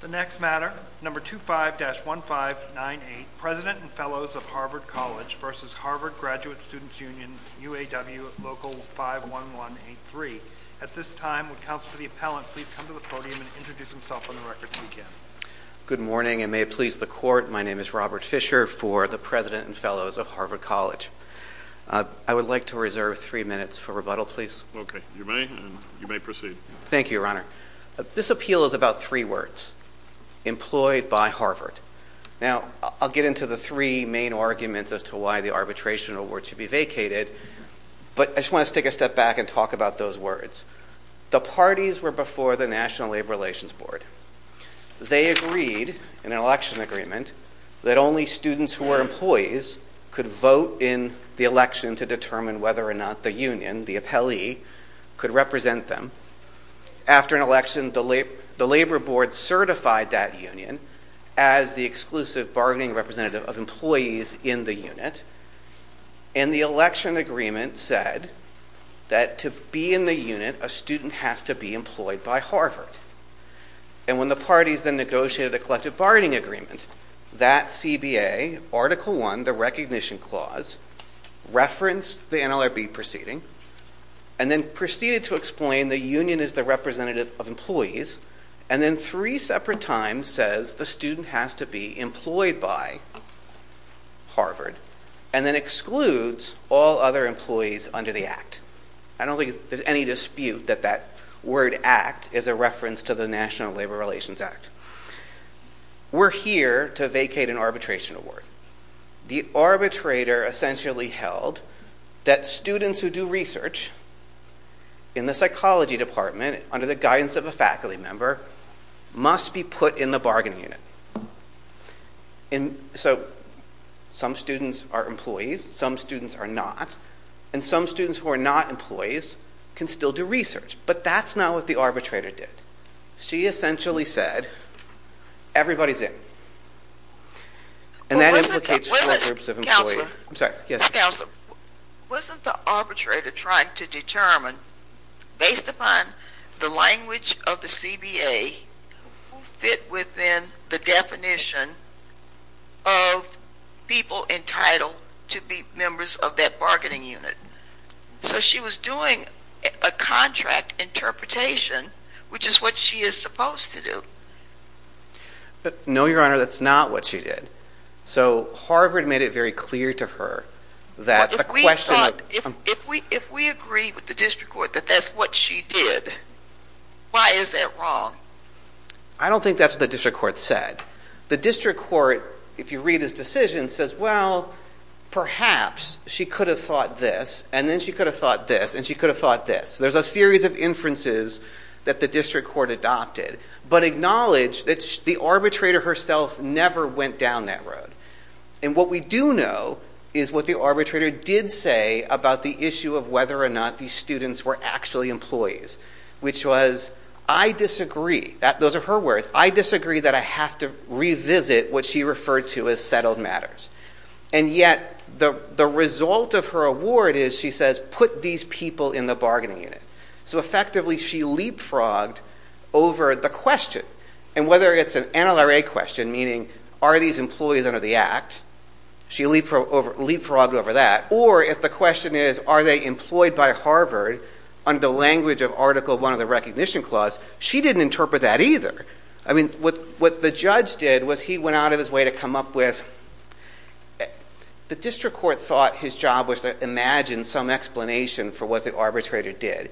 The next matter, No. 25-1598, President and Fellows of Harvard College v. Harvard Graduate Students Union, UAW, Local 51183. At this time, would Counsel for the Appellant please come to the podium and introduce himself on the record, if he can. Good morning, and may it please the Court, my name is Robert Fisher for the President and Fellows of Harvard College. I would like to reserve three minutes for rebuttal, please. Okay, you may, and you may proceed. Thank you, Your Honor. This appeal is about three words, employed by Harvard. Now, I'll get into the three main arguments as to why the arbitration award should be vacated, but I just want to take a step back and talk about those words. The parties were before the National Labor Relations Board. They agreed, in an election agreement, that only students who were employees could vote in the election to determine whether or not the union, the appellee, could represent them. After an election, the Labor Board certified that union as the exclusive bargaining representative of employees in the unit. And the election agreement said that to be in the unit, a student has to be employed by Harvard. And when the parties then negotiated a collective bargaining agreement, that CBA, Article I, the Recognition Clause, referenced the NLRB proceeding, and then proceeded to explain the union is the representative of employees, and then three separate times says the student has to be employed by Harvard, and then excludes all other employees under the Act. I don't think there's any dispute that that word act is a reference to the National Labor Relations Act. We're here to vacate an arbitration award. The arbitrator essentially held that students who do research in the psychology department, under the guidance of a faculty member, must be put in the bargaining unit. So, some students are employees, some students are not, and some students who are not employees can still do research. But that's not what the arbitrator did. She essentially said, everybody's in. Wasn't the arbitrator trying to determine, based upon the language of the CBA, who fit within the definition of people entitled to be members of that bargaining unit? So she was doing a contract interpretation, which is what she is supposed to do. No, Your Honor, that's not what she did. So, Harvard made it very clear to her that the question... If we agree with the district court that that's what she did, why is that wrong? I don't think that's what the district court said. The district court, if you read his decision, says, well, perhaps she could have thought this, and then she could have thought this, and she could have thought this. There's a series of inferences that the district court adopted, but acknowledged that the arbitrator herself never went down that road. And what we do know is what the arbitrator did say about the issue of whether or not these students were actually employees, which was, I disagree. Those are her words. I disagree that I have to revisit what she referred to as settled matters. And yet, the result of her award is, she says, put these people in the bargaining unit. So, effectively, she leapfrogged over the question. And whether it's an NLRA question, meaning, are these employees under the Act? She leapfrogged over that. Or if the question is, are they employed by Harvard under the language of Article I of the Recognition Clause? She didn't interpret that either. I mean, what the judge did was he went out of his way to come up with – the district court thought his job was to imagine some explanation for what the arbitrator did.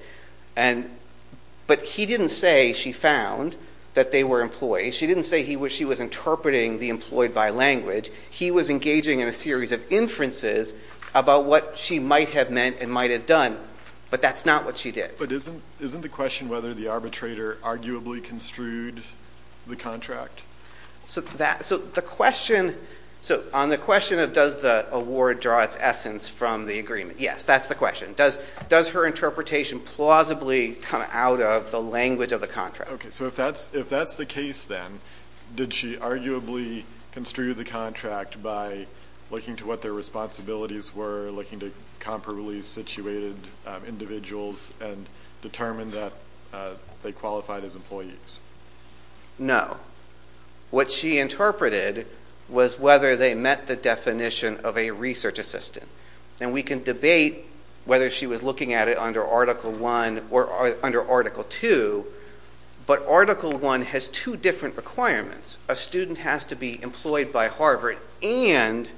But he didn't say she found that they were employees. She didn't say she was interpreting the employed by language. He was engaging in a series of inferences about what she might have meant and might have done. But that's not what she did. But isn't the question whether the arbitrator arguably construed the contract? So, on the question of does the award draw its essence from the agreement, yes, that's the question. Does her interpretation plausibly come out of the language of the contract? Okay, so if that's the case then, did she arguably construe the contract by looking to what their responsibilities were, looking to comparably situated individuals, and determine that they qualified as employees? No. What she interpreted was whether they met the definition of a research assistant. And we can debate whether she was looking at it under Article I or under Article II, but Article I has two different requirements. A student has to be employed by Harvard and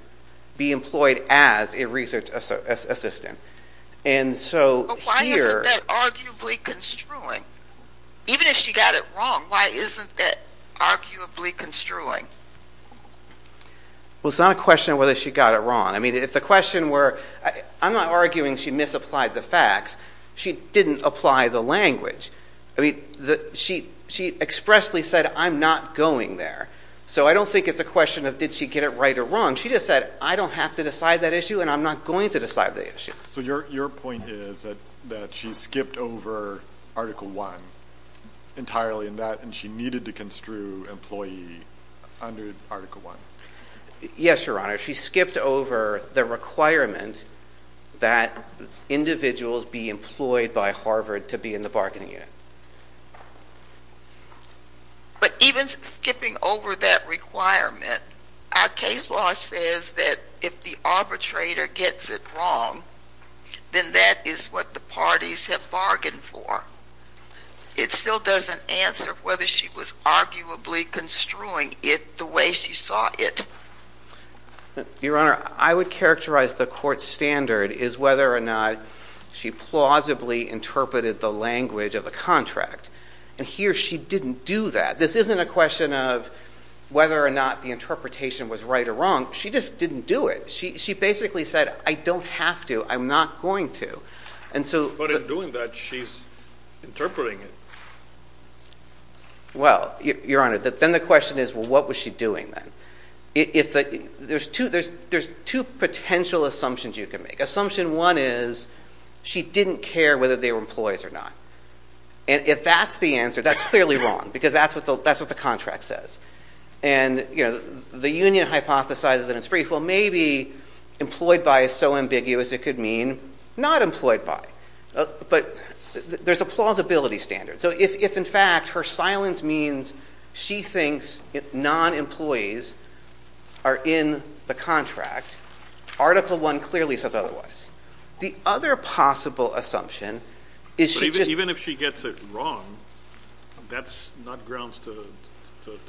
be employed as a research assistant. But why isn't that arguably construing? Even if she got it wrong, why isn't that arguably construing? Well, it's not a question of whether she got it wrong. I mean, if the question were, I'm not arguing she misapplied the facts. She didn't apply the language. I mean, she expressly said, I'm not going there. So I don't think it's a question of did she get it right or wrong. She just said, I don't have to decide that issue and I'm not going to decide the issue. So your point is that she skipped over Article I entirely in that and she needed to construe employee under Article I. Yes, Your Honor. She skipped over the requirement that individuals be employed by Harvard to be in the bargaining unit. But even skipping over that requirement, our case law says that if the arbitrator gets it wrong, then that is what the parties have bargained for. It still doesn't answer whether she was arguably construing it the way she saw it. Your Honor, I would characterize the court's standard as whether or not she plausibly interpreted the language of the contract. And here she didn't do that. This isn't a question of whether or not the interpretation was right or wrong. She just didn't do it. She basically said, I don't have to. I'm not going to. But in doing that, she's interpreting it. Well, Your Honor, then the question is, well, what was she doing then? There's two potential assumptions you can make. Assumption one is she didn't care whether they were employees or not. And if that's the answer, that's clearly wrong because that's what the contract says. And the union hypothesizes in its brief, well, maybe employed by is so ambiguous it could mean not employed by. But there's a plausibility standard. So if, in fact, her silence means she thinks non-employees are in the contract, Article I clearly says otherwise. The other possible assumption is she just — But even if she gets it wrong, that's not grounds to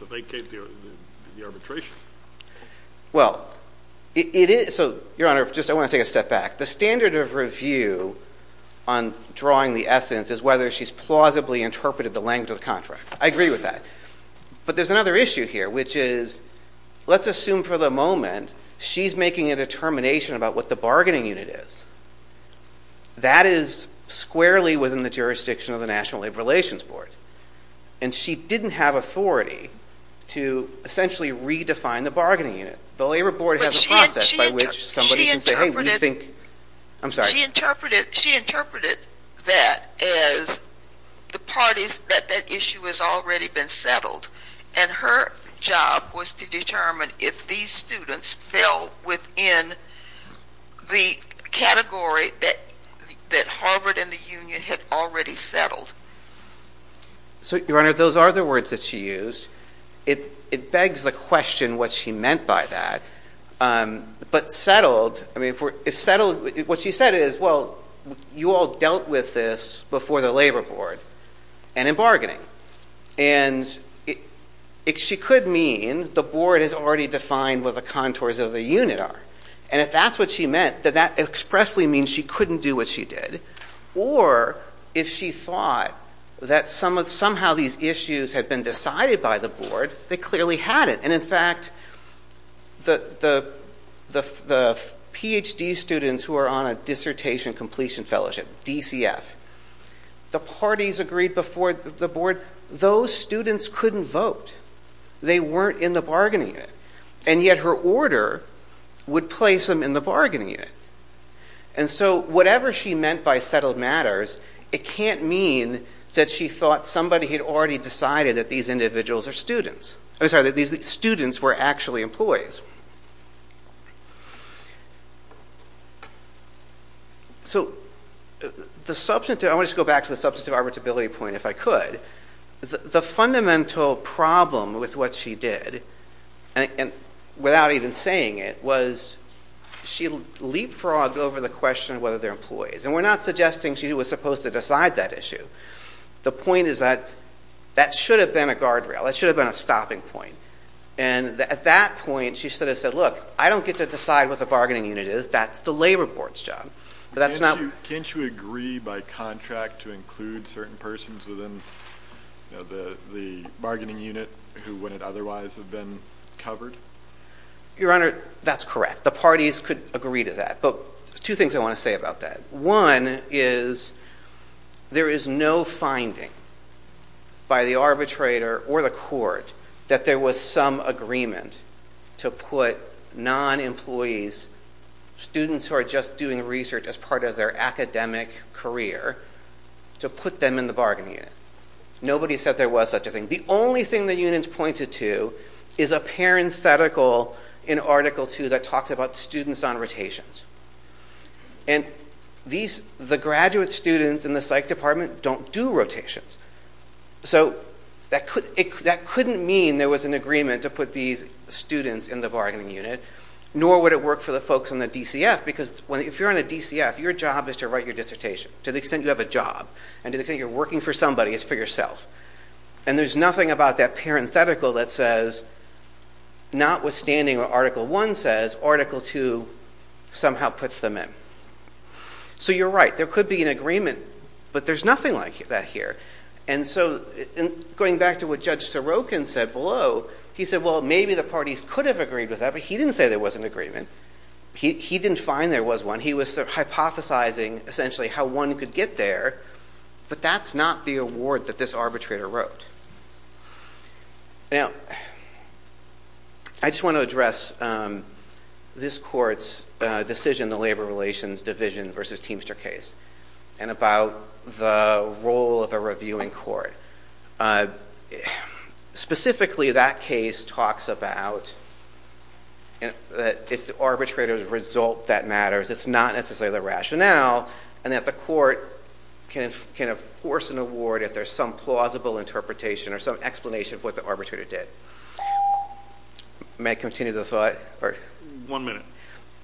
vacate the arbitration. Well, it is — so, Your Honor, just I want to take a step back. The standard of review on drawing the essence is whether she's plausibly interpreted the language of the contract. I agree with that. But there's another issue here, which is let's assume for the moment she's making a determination about what the bargaining unit is. That is squarely within the jurisdiction of the National Labor Relations Board. And she didn't have authority to essentially redefine the bargaining unit. The Labor Board has a process by which somebody can say, hey, we think — I'm sorry. She interpreted that as the parties that that issue has already been settled. And her job was to determine if these students fell within the category that Harvard and the union had already settled. So, Your Honor, those are the words that she used. It begs the question what she meant by that. But settled — I mean, if settled — what she said is, well, you all dealt with this before the Labor Board and in bargaining. And she could mean the board has already defined what the contours of the unit are. And if that's what she meant, then that expressly means she couldn't do what she did. Or if she thought that somehow these issues had been decided by the board, they clearly hadn't. And, in fact, the Ph.D. students who are on a dissertation completion fellowship, DCF, the parties agreed before the board, those students couldn't vote. They weren't in the bargaining unit. And yet her order would place them in the bargaining unit. And so whatever she meant by settled matters, it can't mean that she thought somebody had already decided that these individuals are students. I'm sorry, that these students were actually employees. So the substantive — I want to just go back to the substantive arbitrability point, if I could. The fundamental problem with what she did, and without even saying it, was she leapfrogged over the question of whether they're employees. And we're not suggesting she was supposed to decide that issue. The point is that that should have been a guardrail. That should have been a stopping point. And at that point, she should have said, look, I don't get to decide what the bargaining unit is. That's the labor board's job. But that's not — Can't you agree by contract to include certain persons within the bargaining unit who wouldn't otherwise have been covered? Your Honor, that's correct. The parties could agree to that. But there's two things I want to say about that. One is there is no finding by the arbitrator or the court that there was some agreement to put non-employees, students who are just doing research as part of their academic career, to put them in the bargaining unit. Nobody said there was such a thing. The only thing the unions pointed to is a parenthetical in Article 2 that talks about students on rotations. And the graduate students in the psych department don't do rotations. So that couldn't mean there was an agreement to put these students in the bargaining unit. Nor would it work for the folks in the DCF. Because if you're in a DCF, your job is to write your dissertation. To the extent you have a job and to the extent you're working for somebody, it's for yourself. And there's nothing about that parenthetical that says, notwithstanding what Article 1 says, Article 2 somehow puts them in. So you're right. There could be an agreement. But there's nothing like that here. And so going back to what Judge Sorokin said below, he said, well, maybe the parties could have agreed with that. But he didn't say there was an agreement. He didn't find there was one. He was hypothesizing, essentially, how one could get there. But that's not the award that this arbitrator wrote. Now, I just want to address this court's decision, the Labor Relations Division versus Teamster case, and about the role of a reviewing court. Specifically, that case talks about that it's the arbitrator's result that matters. It's not necessarily the rationale. And that the court can enforce an award if there's some plausible interpretation or some explanation of what the arbitrator did. May I continue the thought? One minute.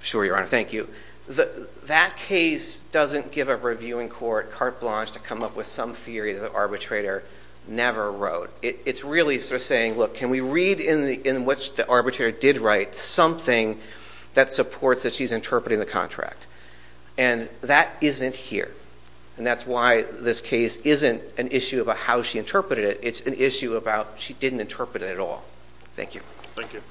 Sure, Your Honor. Thank you. That case doesn't give a reviewing court carte blanche to come up with some theory that the arbitrator never wrote. It's really sort of saying, look, can we read in which the arbitrator did write something that supports that she's interpreting the contract? And that isn't here. And that's why this case isn't an issue about how she interpreted it. It's an issue about she didn't interpret it at all. Thank you. Thank you.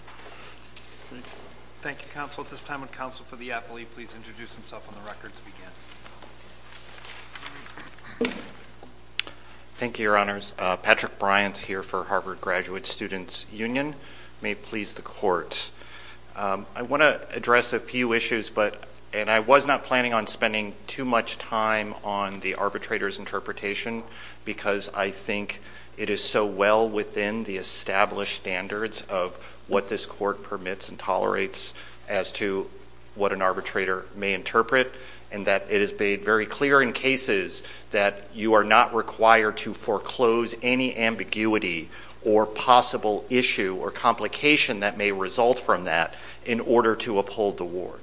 Thank you, counsel. At this time, would counsel for the appellee please introduce himself on the record to begin? Thank you, Your Honors. Patrick Bryant here for Harvard Graduate Students Union. May it please the court. I want to address a few issues, and I was not planning on spending too much time on the arbitrator's interpretation because I think it is so well within the established standards of what this court permits and tolerates as to what an arbitrator may interpret, and that it is made very clear in cases that you are not required to foreclose any ambiguity or possible issue or complication that may result from that in order to uphold the ward.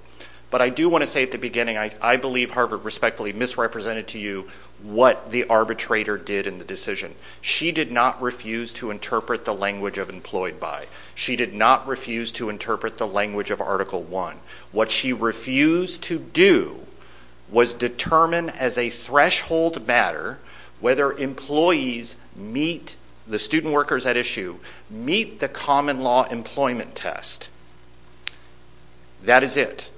But I do want to say at the beginning I believe Harvard respectfully misrepresented to you what the arbitrator did in the decision. She did not refuse to interpret the language of employed by. She did not refuse to interpret the language of Article I. What she refused to do was determine as a threshold matter whether employees meet the student workers at issue, meet the common law employment test. That is it.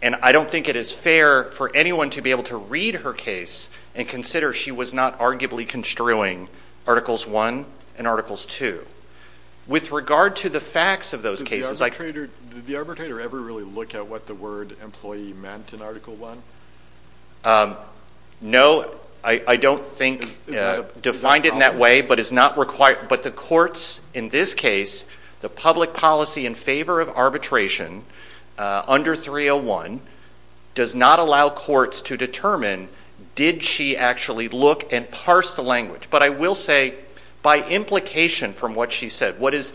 And I don't think it is fair for anyone to be able to read her case and consider she was not arguably construing Articles I and Articles II. With regard to the facts of those cases... Did the arbitrator ever really look at what the word employee meant in Article I? No, I don't think defined it in that way, but the courts in this case, the public policy in favor of arbitration under 301 does not allow courts to determine did she actually look and parse the language. But I will say by implication from what she said, what is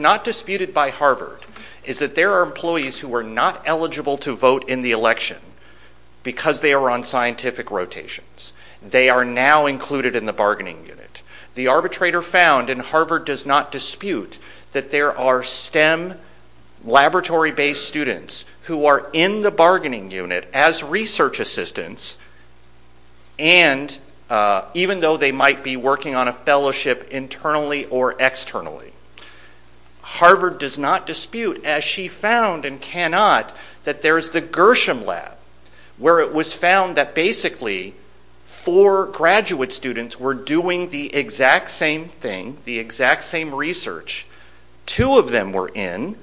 not disputed by Harvard is that there are employees who are not eligible to vote in the election because they are on scientific rotations. They are now included in the bargaining unit. The arbitrator found, and Harvard does not dispute, that there are STEM laboratory-based students who are in the bargaining unit as research assistants and even though they might be working on a fellowship internally or externally. Harvard does not dispute, as she found and cannot, that there is the Gershom lab where it was found that basically four graduate students were doing the exact same thing, the exact same research. Two of them were in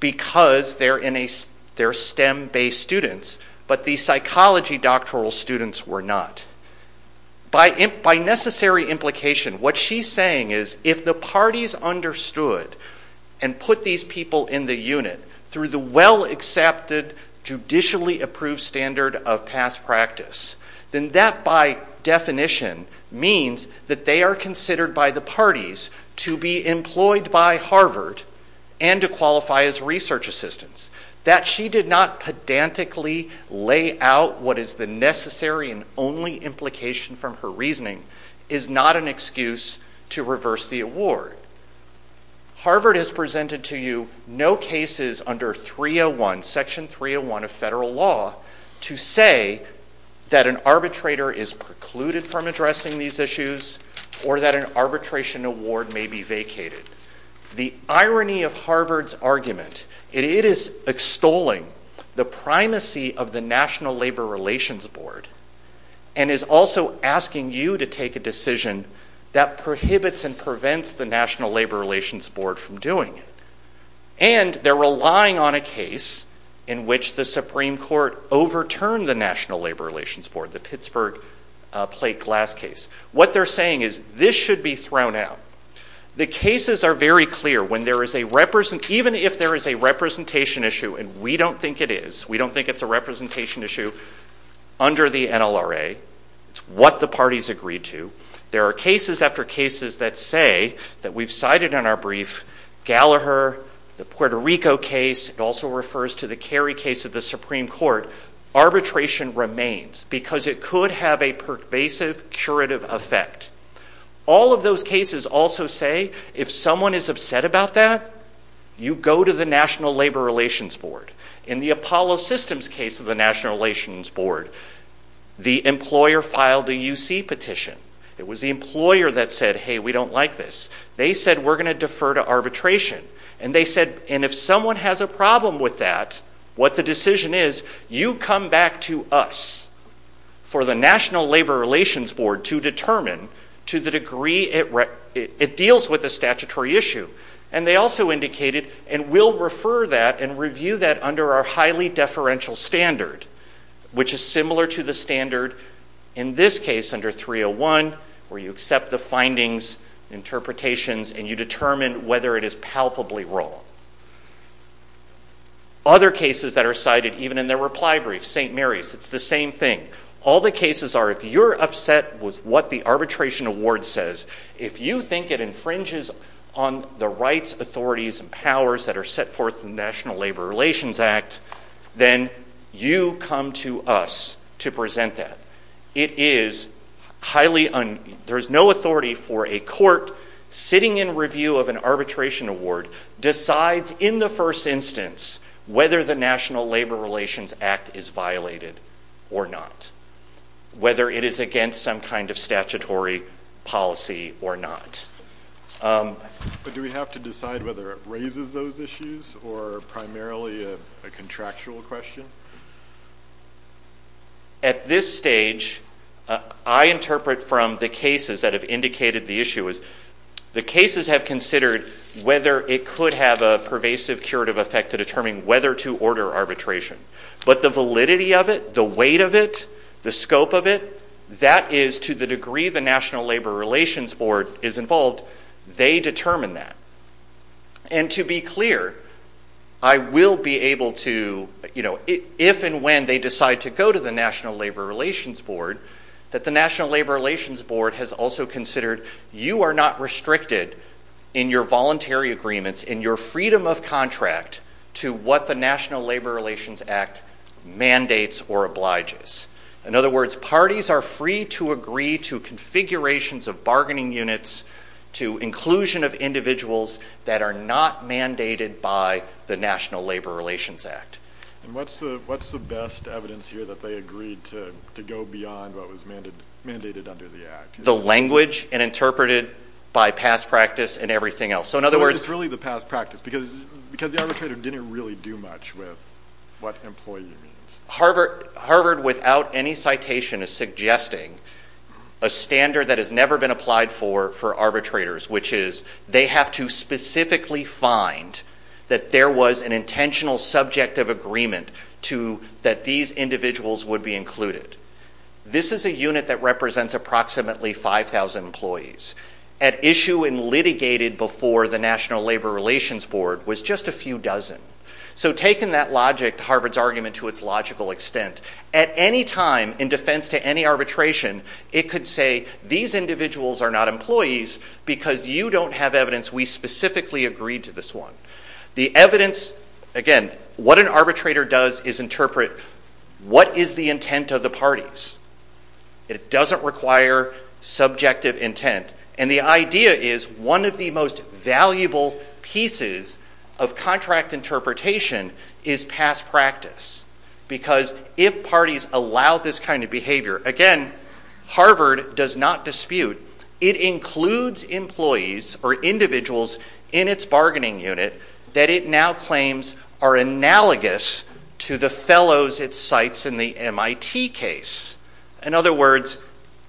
because they are STEM-based students, but the psychology doctoral students were not. By necessary implication, what she is saying is if the parties understood and put these people in the unit through the well-accepted, judicially-approved standard of past practice, then that by definition means that they are considered by the parties to be employed by Harvard and to qualify as research assistants. That she did not pedantically lay out what is the necessary and only implication from her reasoning is not an excuse to reverse the award. Harvard has presented to you no cases under Section 301 of federal law to say that an arbitrator is precluded from addressing these issues or that an arbitration award may be vacated. The irony of Harvard's argument, it is extolling the primacy of the National Labor Relations Board and is also asking you to take a decision that prohibits and prevents the National Labor Relations Board from doing it. And they are relying on a case in which the Supreme Court overturned the National Labor Relations Board, the Pittsburgh plate glass case. What they are saying is this should be thrown out. The cases are very clear. Even if there is a representation issue, and we don't think it is, we don't think it's a representation issue under the NLRA, it's what the parties agreed to, there are cases after cases that say, that we've cited in our brief, Gallagher, the Puerto Rico case, it also refers to the Kerry case of the Supreme Court, arbitration remains because it could have a pervasive curative effect. All of those cases also say, if someone is upset about that, you go to the National Labor Relations Board. In the Apollo Systems case of the National Relations Board, the employer filed a UC petition. It was the employer that said, hey, we don't like this. They said, we're going to defer to arbitration. And they said, and if someone has a problem with that, what the decision is, you come back to us for the National Labor Relations Board to determine to the degree it deals with a statutory issue. And they also indicated, and we'll refer that and review that under our highly deferential standard, which is similar to the standard in this case under 301, where you accept the findings, interpretations, and you determine whether it is palpably wrong. Other cases that are cited, even in their reply brief, St. Mary's, it's the same thing. All the cases are, if you're upset with what the arbitration award says, if you think it infringes on the rights, authorities, and powers that are set forth in the National Labor Relations Act, then you come to us to present that. It is highly un- there's no authority for a court sitting in review of an arbitration award, decides in the first instance whether the National Labor Relations Act is violated or not, whether it is against some kind of statutory policy or not. But do we have to decide whether it raises those issues or primarily a contractual question? At this stage, I interpret from the cases that have indicated the issue as the cases have considered whether it could have a pervasive curative effect to determine whether to order arbitration. But the validity of it, the weight of it, the scope of it, that is to the degree the National Labor Relations Board is involved, they determine that. And to be clear, I will be able to, you know, if and when they decide to go to the National Labor Relations Board, that the National Labor Relations Board has also considered you are not restricted in your voluntary agreements, in your freedom of contract, to what the National Labor Relations Act mandates or obliges. In other words, parties are free to agree to configurations of bargaining units, to inclusion of individuals that are not mandated by the National Labor Relations Act. And what's the best evidence here that they agreed to go beyond what was mandated under the Act? The language and interpreted by past practice and everything else. So it's really the past practice, because the arbitrator didn't really do much with what employee means. Harvard, without any citation, is suggesting a standard that has never been applied for arbitrators, which is they have to specifically find that there was an intentional subjective agreement that these individuals would be included. This is a unit that represents approximately 5,000 employees. At issue and litigated before the National Labor Relations Board was just a few dozen. So taking that logic, Harvard's argument to its logical extent, at any time in defense to any arbitration, it could say these individuals are not employees because you don't have evidence we specifically agreed to this one. The evidence, again, what an arbitrator does is interpret what is the intent of the parties. It doesn't require subjective intent. And the idea is one of the most valuable pieces of contract interpretation is past practice. Because if parties allow this kind of behavior, again, Harvard does not dispute. It includes employees or individuals in its bargaining unit that it now claims are analogous to the fellows it cites in the MIT case. In other words,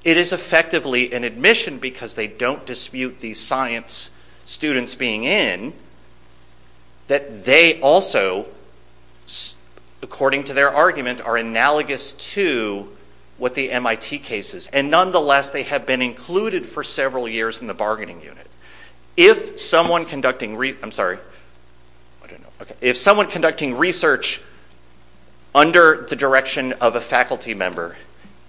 it is effectively an admission because they don't dispute the science students being in that they also, according to their argument, are analogous to what the MIT case is. And nonetheless, they have been included for several years in the bargaining unit. If someone conducting research under the direction of a faculty member,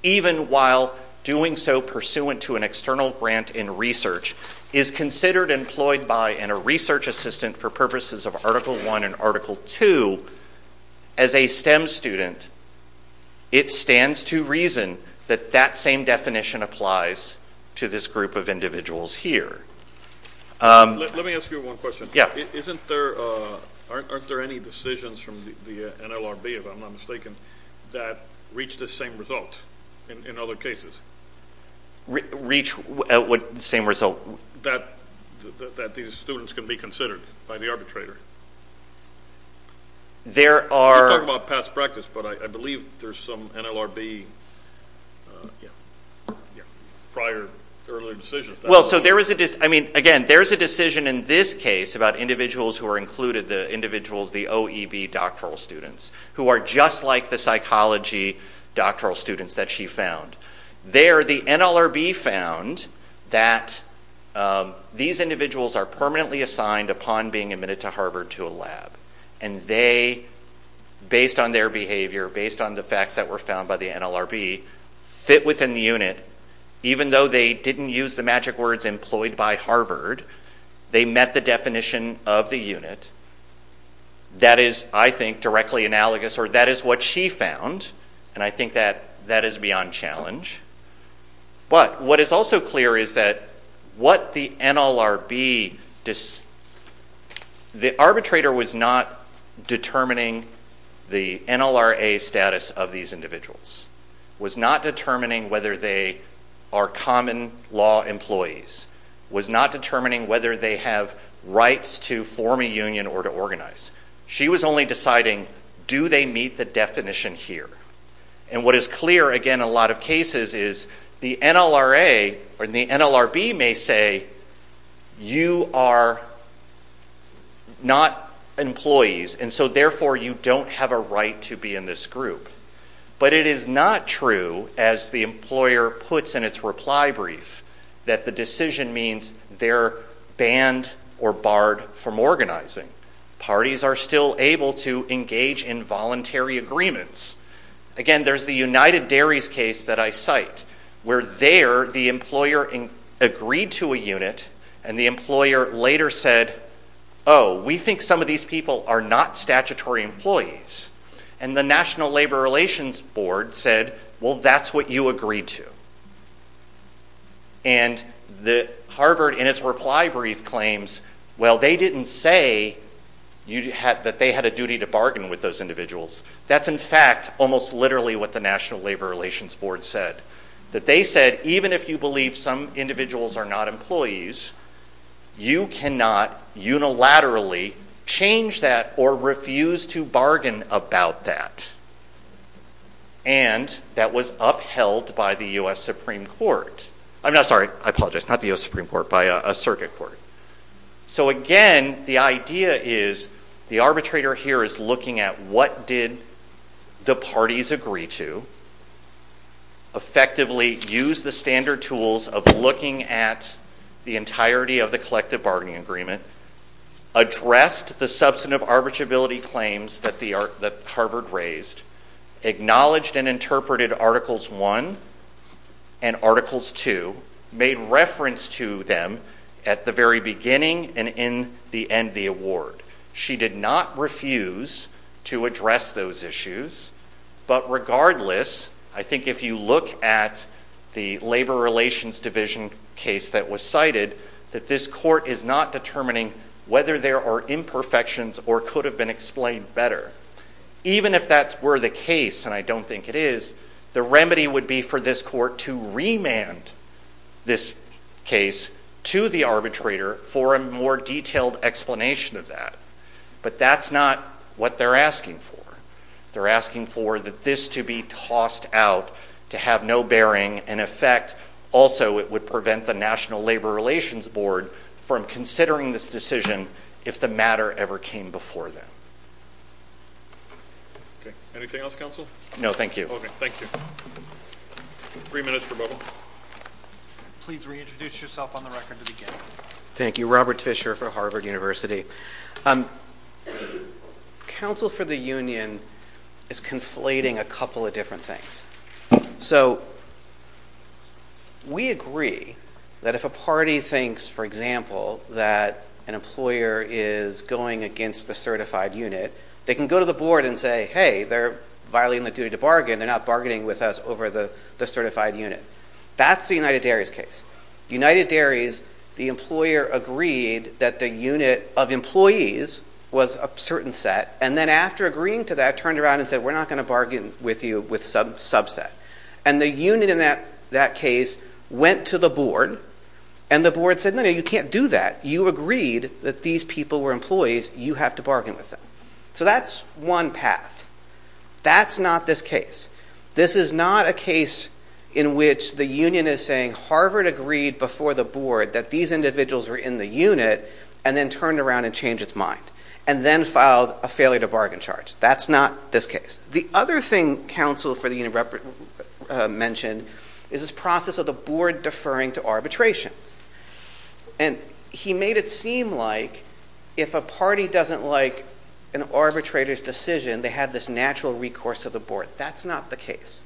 even while doing so pursuant to an external grant in research, is considered employed by a research assistant for purposes of Article I and Article II, as a STEM student, it stands to reason that that same definition applies to this group of individuals here. Let me ask you one question. Aren't there any decisions from the NLRB, if I'm not mistaken, that reach the same result in other cases? Reach what same result? That these students can be considered by the arbitrator. You're talking about past practice, but I believe there's some NLRB prior, early decisions. Again, there is a decision in this case about individuals who are included, the individuals, the OEB doctoral students, who are just like the psychology doctoral students that she found. There, the NLRB found that these individuals are permanently assigned upon being admitted to Harvard to a lab. And they, based on their behavior, based on the facts that were found by the NLRB, fit within the unit, even though they didn't use the magic words employed by Harvard, they met the definition of the unit. That is, I think, directly analogous, or that is what she found, and I think that that is beyond challenge. But what is also clear is that what the NLRB... The arbitrator was not determining the NLRA status of these individuals, was not determining whether they are common law employees, was not determining whether they have rights to form a union or to organize. She was only deciding, do they meet the definition here? And what is clear, again, in a lot of cases is the NLRA or the NLRB may say, you are not employees, and so therefore you don't have a right to be in this group. But it is not true, as the employer puts in its reply brief, that the decision means they are banned or barred from organizing. Parties are still able to engage in voluntary agreements. Again, there is the United Dairies case that I cite, where there the employer agreed to a unit, and the employer later said, oh, we think some of these people are not statutory employees. And the National Labor Relations Board said, well, that's what you agreed to. And Harvard, in its reply brief, claims, well, they didn't say that they had a duty to bargain with those individuals. That's, in fact, almost literally what the National Labor Relations Board said. That they said, even if you believe some individuals are not employees, you cannot unilaterally change that or refuse to bargain about that. And that was upheld by the U.S. Supreme Court. I'm sorry, I apologize, not the U.S. Supreme Court, by a circuit court. So again, the idea is, the arbitrator here is looking at what did the parties agree to, effectively used the standard tools of looking at the entirety of the collective bargaining agreement, addressed the substantive arbitrability claims that Harvard raised, acknowledged and interpreted Articles 1 and Articles 2, made reference to them at the very beginning and in the end of the award. She did not refuse to address those issues, but regardless, I think if you look at the Labor Relations Division case that was cited, that this court is not determining whether there are imperfections or could have been explained better. Even if that were the case, and I don't think it is, the remedy would be for this court to remand this case to the arbitrator for a more detailed explanation of that. But that's not what they're asking for. They're asking for this to be tossed out, to have no bearing, and in effect, also it would prevent the National Labor Relations Board from considering this decision if the matter ever came before them. Okay. Anything else, Counsel? No, thank you. Okay, thank you. Three minutes for bubble. Please reintroduce yourself on the record to begin. Thank you. Robert Fisher for Harvard University. Counsel for the Union is conflating a couple of different things. So we agree that if a party thinks, for example, that an employer is going against the certified unit, they can go to the board and say, hey, they're violating the duty to bargain, they're not bargaining with us over the certified unit. That's the United Dairies case. United Dairies, the employer agreed that the unit of employees was a certain set, and then after agreeing to that, turned around and said, we're not going to bargain with you with some subset. And the unit in that case went to the board, and the board said, no, no, you can't do that. You agreed that these people were employees, you have to bargain with them. So that's one path. That's not this case. This is not a case in which the union is saying, Harvard agreed before the board that these individuals were in the unit, and then turned around and changed its mind, and then filed a failure to bargain charge. That's not this case. The other thing counsel for the union mentioned is this process of the board deferring to arbitration. And he made it seem like if a party doesn't like an arbitrator's decision, they have this natural recourse to the board. That's not the case.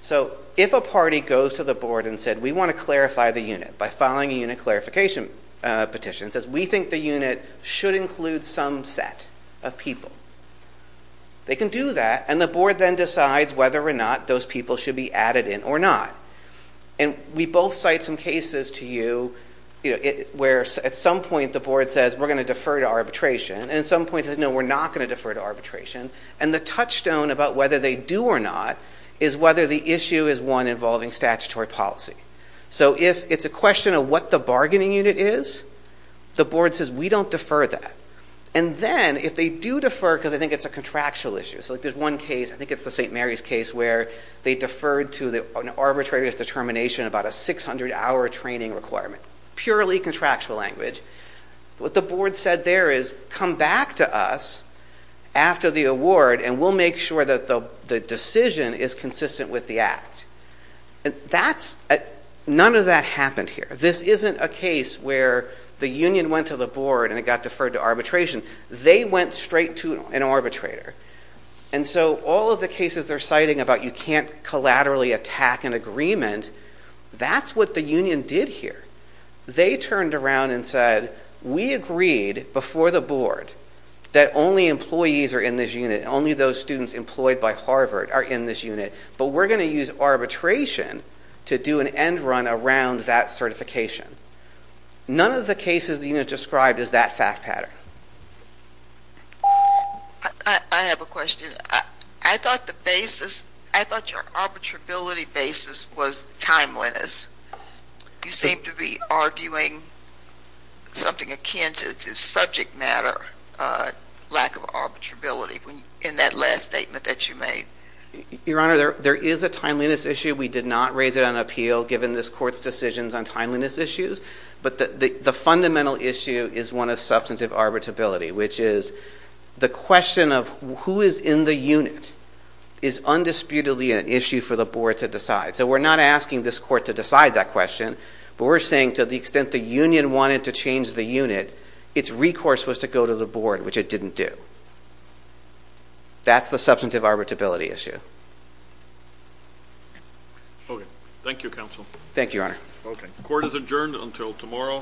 So if a party goes to the board and said, we want to clarify the unit by filing a unit clarification petition, and says, we think the unit should include some set of people, they can do that, and the board then decides whether or not those people should be added in or not. And we both cite some cases to you where at some point the board says, we're going to defer to arbitration, and at some point it says, no, we're not going to defer to arbitration. And the touchstone about whether they do or not is whether the issue is one involving statutory policy. So if it's a question of what the bargaining unit is, the board says, we don't defer that. And then if they do defer, because I think it's a contractual issue, so there's one case, I think it's the St. Mary's case, where they deferred to an arbitrator's determination about a 600-hour training requirement. Purely contractual language. What the board said there is, come back to us after the award, and we'll make sure that the decision is consistent with the act. None of that happened here. This isn't a case where the union went to the board and it got deferred to arbitration. They went straight to an arbitrator. And so all of the cases they're citing about you can't collaterally attack an agreement, that's what the union did here. They turned around and said, we agreed before the board that only employees are in this unit, only those students employed by Harvard are in this unit, but we're going to use arbitration to do an end run around that certification. None of the cases the union described is that fact pattern. I have a question. I thought the basis, I thought your arbitrability basis was timeliness. You seem to be arguing something akin to subject matter, lack of arbitrability, in that last statement that you made. Your Honor, there is a timeliness issue. We did not raise it on appeal, given this court's decisions on timeliness issues, but the fundamental issue is one of substantive arbitrability, which is the question of who is in the unit is undisputedly an issue for the board to decide. So we're not asking this court to decide that question, but we're saying to the extent the union wanted to change the unit, its recourse was to go to the board, which it didn't do. That's the substantive arbitrability issue. Okay. Thank you, Counsel. Thank you, Your Honor. Court is adjourned until tomorrow.